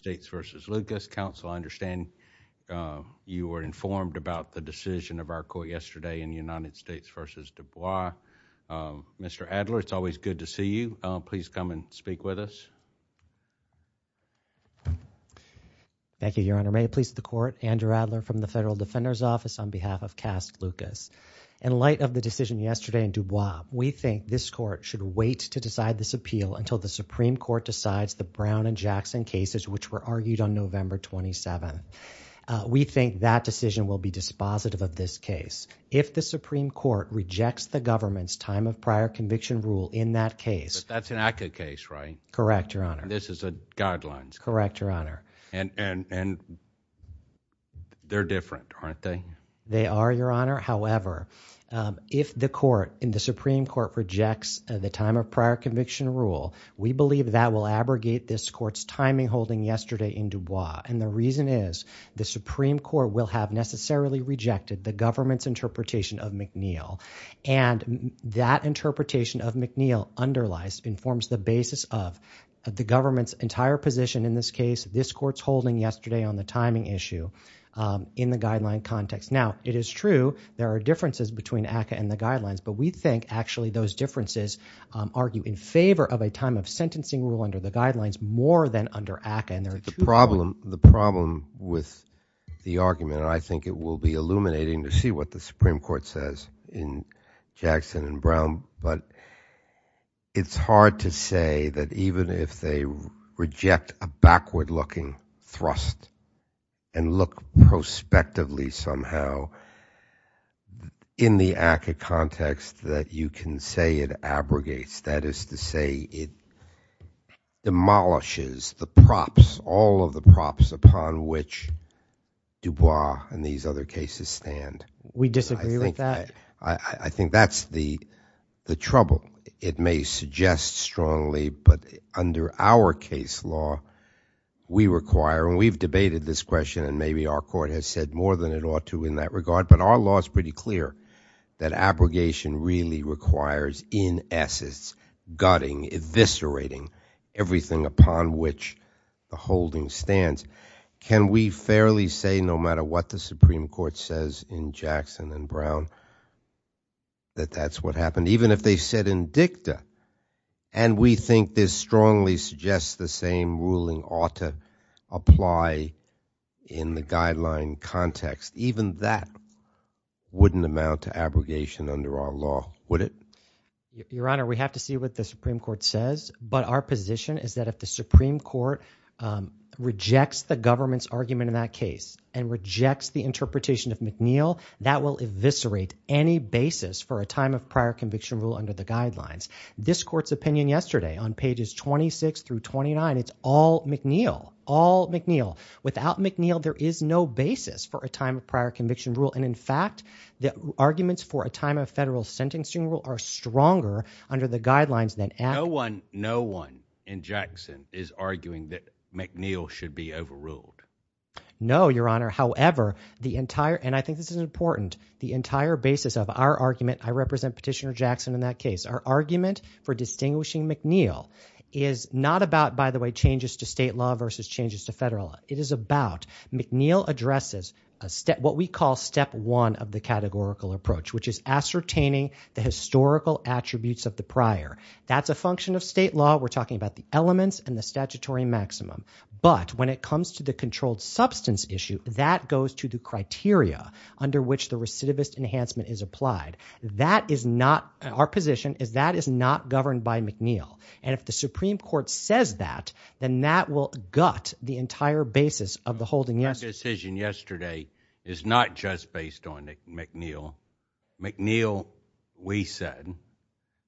States v. Lucas. Counsel, I understand you were informed about the decision of our court yesterday in the United States v. Dubois. Mr. Adler, it's always good to see you. Please come and speak with us. Thank you, Your Honor. May it please the court, Andrew Adler from the Federal Defender's Office on behalf of Cast Lucas. In light of the decision yesterday in Dubois, we think this court should wait to decide this appeal until the Supreme Court decides the Brown v. Jackson cases, which were argued on November 27. We think that decision will be dispositive of this case. If the Supreme Court rejects the government's time of prior conviction rule in that case. But that's an ACCA case, right? Correct, Your Honor. This is a guidelines case? Correct, Your Honor. And they're different, aren't they? They are, Your Honor. However, if the Supreme Court rejects the time of prior conviction rule, we believe that will abrogate this court's timing holding yesterday in Dubois. And the reason is the Supreme Court will have necessarily rejected the government's interpretation of McNeil. And that interpretation of McNeil underlies, informs the basis of the government's entire position in this case, this court's holding yesterday on the timing issue in the guideline context. Now, it is true there are differences between ACCA and the guidelines, but we think actually those differences argue in favor of a time of sentencing rule under the guidelines more than under ACCA. The problem with the argument, and I think it will be illuminating to see what the Supreme Court says in Jackson and Brown, but it's hard to say that even if they reject a backward-looking thrust and look prospectively somehow in the ACCA context that you can say it abrogates, that is to say it demolishes the props, all of the props upon which Dubois and these other cases stand. We disagree with that. I think that's the trouble. It may suggest strongly, but under our case law, we require, and we've debated this question and maybe our court has said more than it ought to in that regard, but our law is pretty clear that abrogation really requires in essence gutting, eviscerating everything upon which the holding stands. Can we fairly say no matter what the Supreme Court says in Jackson and Brown that that's what happened? Even if they said in dicta, and we think this strongly suggests the same ruling ought to apply in the guideline context, even that wouldn't amount to abrogation under our law, would it? Your Honor, we have to see what the Supreme Court says, but our position is that if the Supreme Court rejects the government's argument in that case and rejects the interpretation of McNeil, that will eviscerate any basis for a time of prior conviction rule under the guidelines. This Court's opinion yesterday on pages 26 through 29, it's all McNeil, all McNeil. Without McNeil, there is no basis for a time of prior conviction rule, and in fact, the arguments for a time of federal sentencing rule are stronger under the guidelines than... No one in Jackson is arguing that McNeil should be overruled. No, Your Honor, however, the entire, and I think this is important, the entire basis of our argument, I represent Petitioner Jackson in that case, our argument for distinguishing state law versus changes to federal law. It is about, McNeil addresses what we call step one of the categorical approach, which is ascertaining the historical attributes of the prior. That's a function of state law. We're talking about the elements and the statutory maximum, but when it comes to the controlled substance issue, that goes to the criteria under which the recidivist enhancement is applied. That is not, our position is that that is not governed by McNeil, and if the Supreme Court says that, then that will gut the entire basis of the holding. That decision yesterday is not just based on McNeil. McNeil, we said,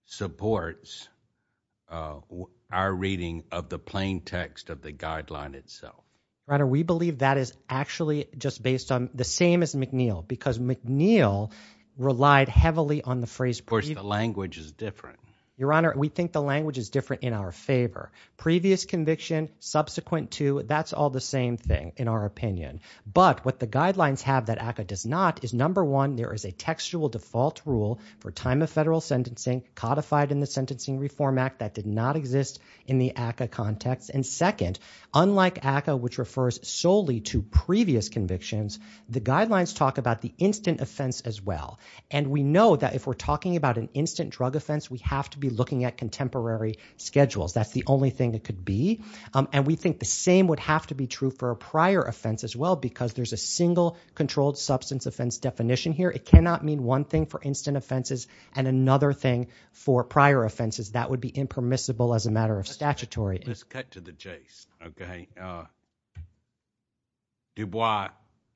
supports our reading of the plain text of the guideline itself. Your Honor, we believe that is actually just based on the same as McNeil, because McNeil relied heavily on the phrase... Of course, the language is different. Your Honor, we think the language is different in our favor. Previous conviction, subsequent to, that's all the same thing, in our opinion, but what the guidelines have that ACCA does not is, number one, there is a textual default rule for time of federal sentencing codified in the Sentencing Reform Act that did not exist in the ACCA context, and second, unlike ACCA, which refers solely to previous convictions, the guidelines talk about the instant offense as well, and we know that if we're talking about an instant drug offense, we have to be looking at contemporary schedules. That's the only thing it could be, and we think the same would have to be true for a prior offense as well, because there's a single controlled substance offense definition here. It cannot mean one thing for instant offenses and another thing for prior offenses. That would be impermissible as a matter of statutory... Let's cut to the chase, okay? Dubois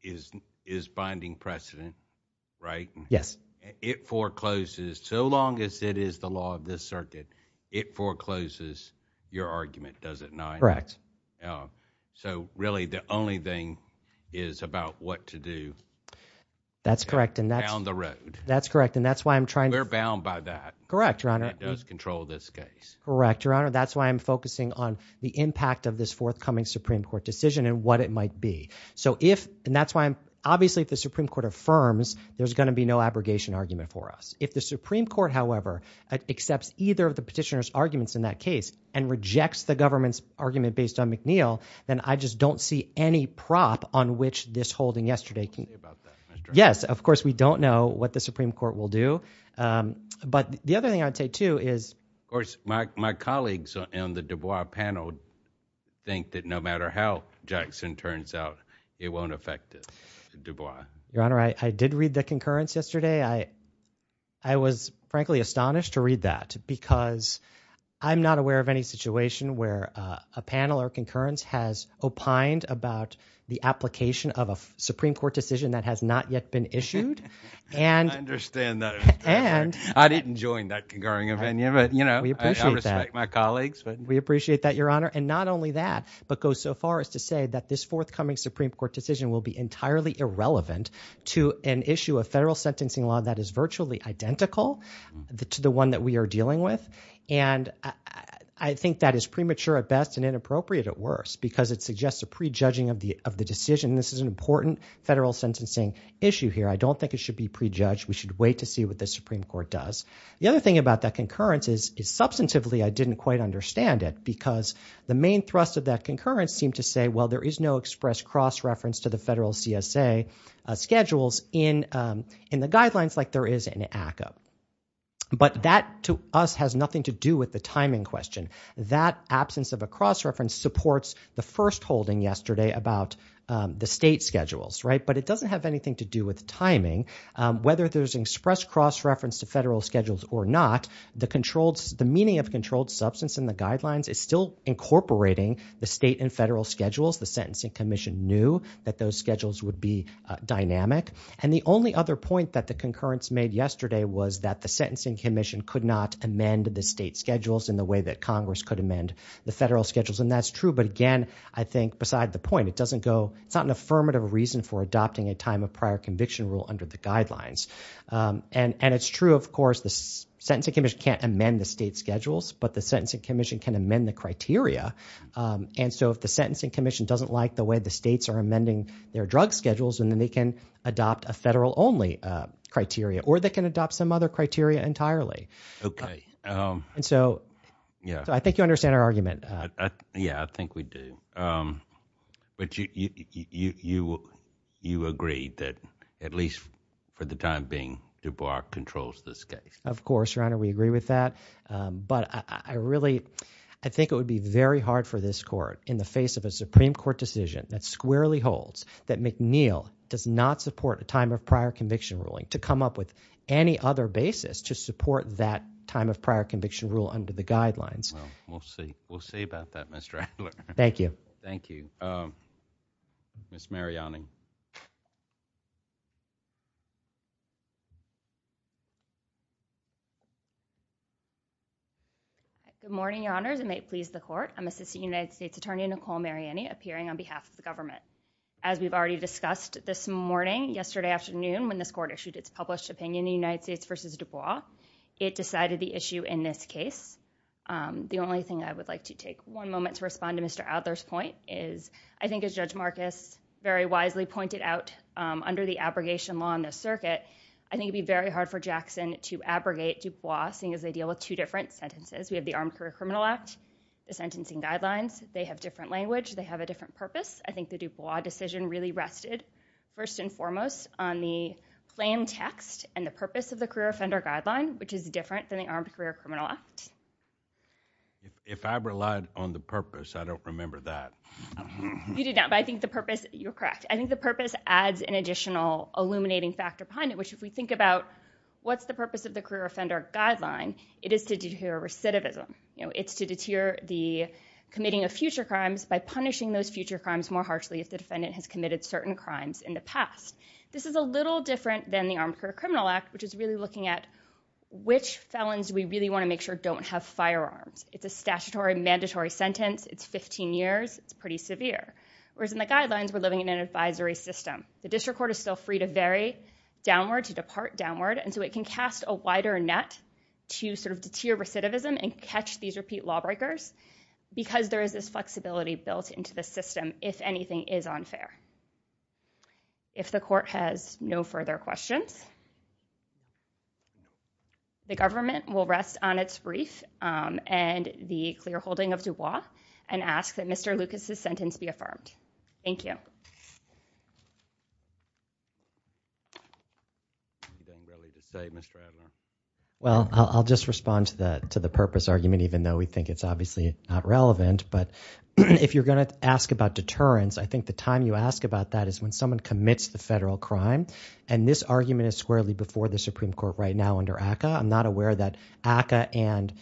is binding precedent. Yes. It forecloses, so long as it is the law of this circuit, it forecloses your argument, does it not? Correct. So really, the only thing is about what to do... That's correct, and that's... Down the road. That's correct, and that's why I'm trying to... We're bound by that. Correct, Your Honor. That does control this case. Correct, Your Honor. That's why I'm focusing on the impact of this forthcoming Supreme Court decision and what it might be. So if, and that's why I'm, obviously if the Supreme Court affirms, there's going to be no abrogation argument for us. If the Supreme Court, however, accepts either of the petitioner's arguments in that case and rejects the government's argument based on McNeil, then I just don't see any prop on which this holding yesterday can... I'm sorry about that, Mr. Arnett. Yes, of course, we don't know what the Supreme Court will do, but the other thing I'd say too is... Of course, my colleagues on the Dubois panel think that no matter how Jackson turns out, it won't affect Dubois. Your Honor, I did read the concurrence yesterday. I was, frankly, astonished to read that because I'm not aware of any situation where a panel or concurrence has opined about the application of a Supreme Court decision that has not yet been issued and... I understand that. I didn't join that concurring opinion, but, you know, I respect my colleagues, but... We appreciate that, Your Honor. And not only that, but goes so far as to say that this to an issue of federal sentencing law that is virtually identical to the one that we are dealing with. And I think that is premature at best and inappropriate at worst because it suggests a prejudging of the decision. This is an important federal sentencing issue here. I don't think it should be prejudged. We should wait to see what the Supreme Court does. The other thing about that concurrence is, substantively, I didn't quite understand it because the main thrust of that concurrence seemed to say, well, there is no express cross-reference to the federal CSA schedules in the guidelines like there is in ACCA. But that, to us, has nothing to do with the timing question. That absence of a cross-reference supports the first holding yesterday about the state schedules, right? But it doesn't have anything to do with timing. Whether there's an express cross-reference to federal schedules or not, the meaning of controlled substance in the guidelines is still incorporating the state and federal schedules. The Sentencing Commission knew that those schedules would be dynamic. And the only other point that the concurrence made yesterday was that the Sentencing Commission could not amend the state schedules in the way that Congress could amend the federal schedules. And that's true. But again, I think, beside the point, it doesn't go – it's not an affirmative reason for adopting a time of prior conviction rule under the guidelines. And it's true, of course, the Sentencing Commission can't amend the state schedules, but the Sentencing Commission can amend the criteria. And so if the Sentencing Commission doesn't like the way the states are amending their drug schedules, then they can adopt a federal-only criteria. Or they can adopt some other criteria entirely. Okay. And so, I think you understand our argument. Yeah, I think we do. But you agreed that at least for the time being, DuBois controls this case. Of course, Your Honor, we agree with that. But I really – I think it would be very hard for this Court, in the face of a Supreme Court decision that squarely holds that McNeil does not support a time of prior conviction ruling, to come up with any other basis to support that time of prior conviction rule under the guidelines. Well, we'll see. We'll see about that, Mr. Adler. Thank you. Thank you. Ms. Mariani. Good morning, Your Honors, and may it please the Court. I'm Assistant United States Attorney Nicole Mariani, appearing on behalf of the government. As we've already discussed this morning, yesterday afternoon, when this Court issued its published opinion, the United States v. DuBois, it decided the issue in this case. The only thing I would like to take one moment to respond to Mr. Adler's point is, I think as Judge Marcus very wisely pointed out, under the abrogation law in this circuit, I think it would be very hard for Jackson to abrogate DuBois, seeing as they deal with two different sentences. We have the Armed Career Criminal Act, the sentencing guidelines. They have different language. They have a different purpose. I think the DuBois decision really rested, first and foremost, on the plain text and the purpose of the career offender guideline, which is different than the Armed Career Criminal Act. If I relied on the purpose, I don't remember that. You did not, but I think the purpose, you're correct. I think the purpose adds an additional illuminating factor behind it, which if we think about what's the purpose of the career offender guideline, it is to deter recidivism. It's to deter the committing of future crimes by punishing those future crimes more harshly if the defendant has committed certain crimes in the past. This is a little different than the Armed Career Criminal Act, which is really looking at which felons we really want to make sure don't have firearms. It's a statutory mandatory sentence. It's 15 years. It's pretty severe, whereas in the guidelines, we're living in an advisory system. The district court is still free to vary downward, to depart downward, and so it can cast a wider net to sort of deter recidivism and catch these repeat lawbreakers because there is this flexibility built into the system if anything is unfair. If the court has no further questions, the government will rest on its brief and the clear holding of the law and ask that Mr. Lucas' sentence be affirmed. Thank you. Well, I'll just respond to the purpose argument, even though we think it's obviously not relevant, but if you're going to ask about deterrence, I think the time you ask about that is when someone commits the federal crime, and this argument is squarely before the Supreme Court right now under ACCA. I'm not aware that ACCA and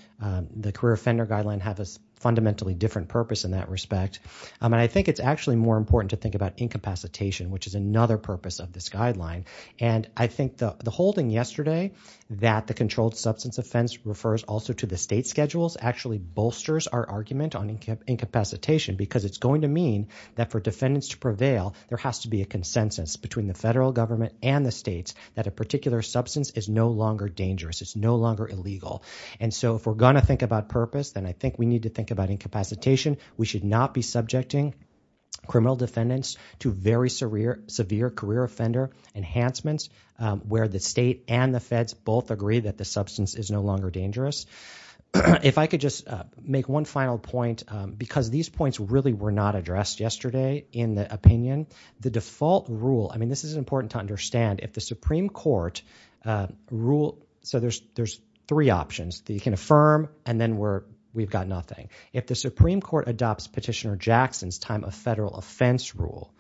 the career offender guideline have a fundamentally different purpose in that respect, and I think it's actually more important to think about incapacitation, which is another purpose of this guideline, and I think the holding yesterday that the controlled substance offense refers also to the state schedules actually bolsters our argument on incapacitation because it's going to mean that for defendants to prevail, there has to be a consensus between the federal government and the states that a particular substance is no longer dangerous. It's no longer illegal, and so if we're going to think about purpose, then I think we need to think about incapacitation. We should not be subjecting criminal defendants to very severe career offender enhancements where the state and the feds both agree that the substance is no longer dangerous. If I could just make one final point because these points really were not addressed yesterday in the opinion. The default rule, I mean this is important to understand. If the Supreme Court rule, so there's three options. You can affirm, and then we've got nothing. If the Supreme Court adopts Petitioner Jackson's time of federal offense rule,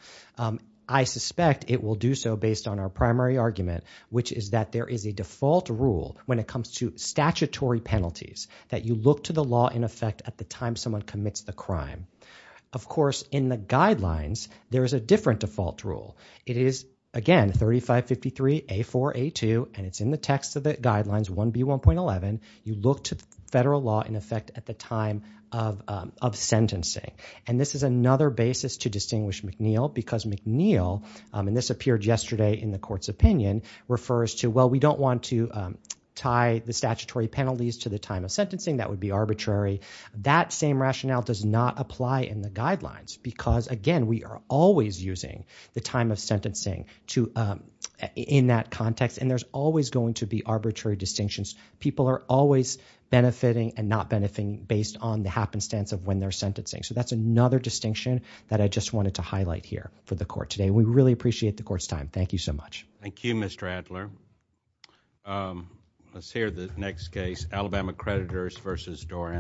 I suspect it will do so based on our primary argument, which is that there is a default rule when it comes to statutory penalties that you look to the law in effect at the time someone commits the crime. Of course, in the guidelines, there is a different default rule. It is again 3553A4A2, and it's in the text of the guidelines 1B1.11. You look to the federal law in effect at the time of sentencing, and this is another basis to distinguish McNeil because McNeil, and this appeared yesterday in the court's opinion, refers to, well, we don't want to tie the statutory penalties to the time of sentencing. That would be arbitrary. That same rationale does not apply in the guidelines because, again, we are always using the time of sentencing in that context, and there's always going to be arbitrary distinctions. People are always benefiting and not benefiting based on the happenstance of when they're sentencing. That's another distinction that I just wanted to highlight here for the court today. We really appreciate the court's time. Thank you so much. Thank you, Mr. Adler. Let's hear the next case, Alabama Creditors v. Doran.